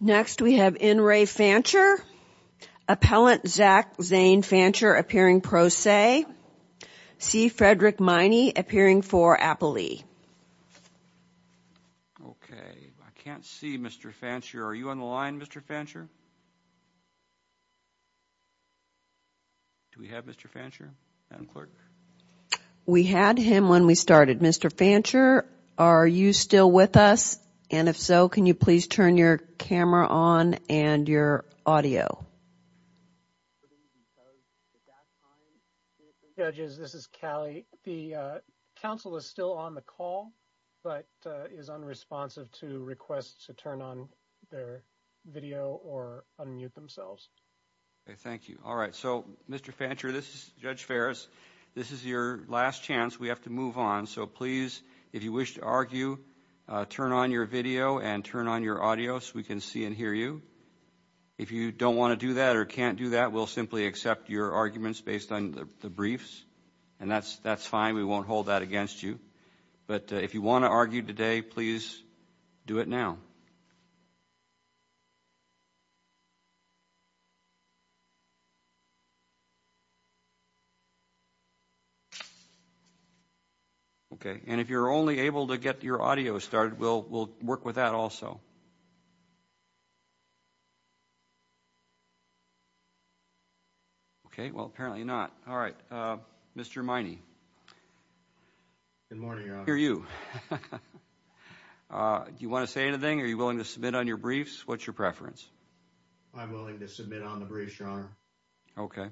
Next, we have N. Ray Fancher, Appellant Zach Zane Fancher appearing pro se, C. Frederick Miney appearing for appellee. Okay, I can't see Mr. Fancher. Are you on the line, Mr. Fancher? Do we have Mr. Fancher? We had him when we started. Mr. Fancher, are you still with us? And if so, can you please turn your camera on and your audio? Judges, this is Callie. The counsel is still on the call, but is unresponsive to requests to turn on their video or unmute themselves. Thank you. All right. So, Mr. Fancher, this is Judge Ferris. This is your last chance. We have to move on. So, please, if you wish to argue, turn on your video and turn on your audio so we can see and hear you. If you don't want to do that or can't do that, we'll simply accept your arguments based on the briefs. And that's fine. We won't hold that against you. But if you want to argue today, please do it now. And if you're only able to get your audio started, we'll work with that also. Okay. Well, apparently not. All right. Mr. Miney. Good morning, Your Honor. I can hear you. Do you want to say anything? Are you willing to submit on your briefs? What's your preference? I'm willing to submit on the briefs, Your Honor. Okay.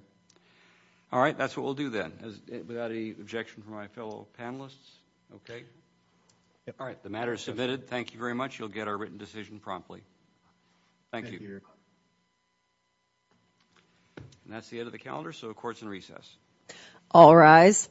All right. That's what we'll do then. Without any objection from my fellow panelists? Okay. All right. The matter is submitted. Thank you very much. You'll get our written decision promptly. Thank you. Thank you, Your Honor. And that's the end of the calendar, so the court's in recess. All rise.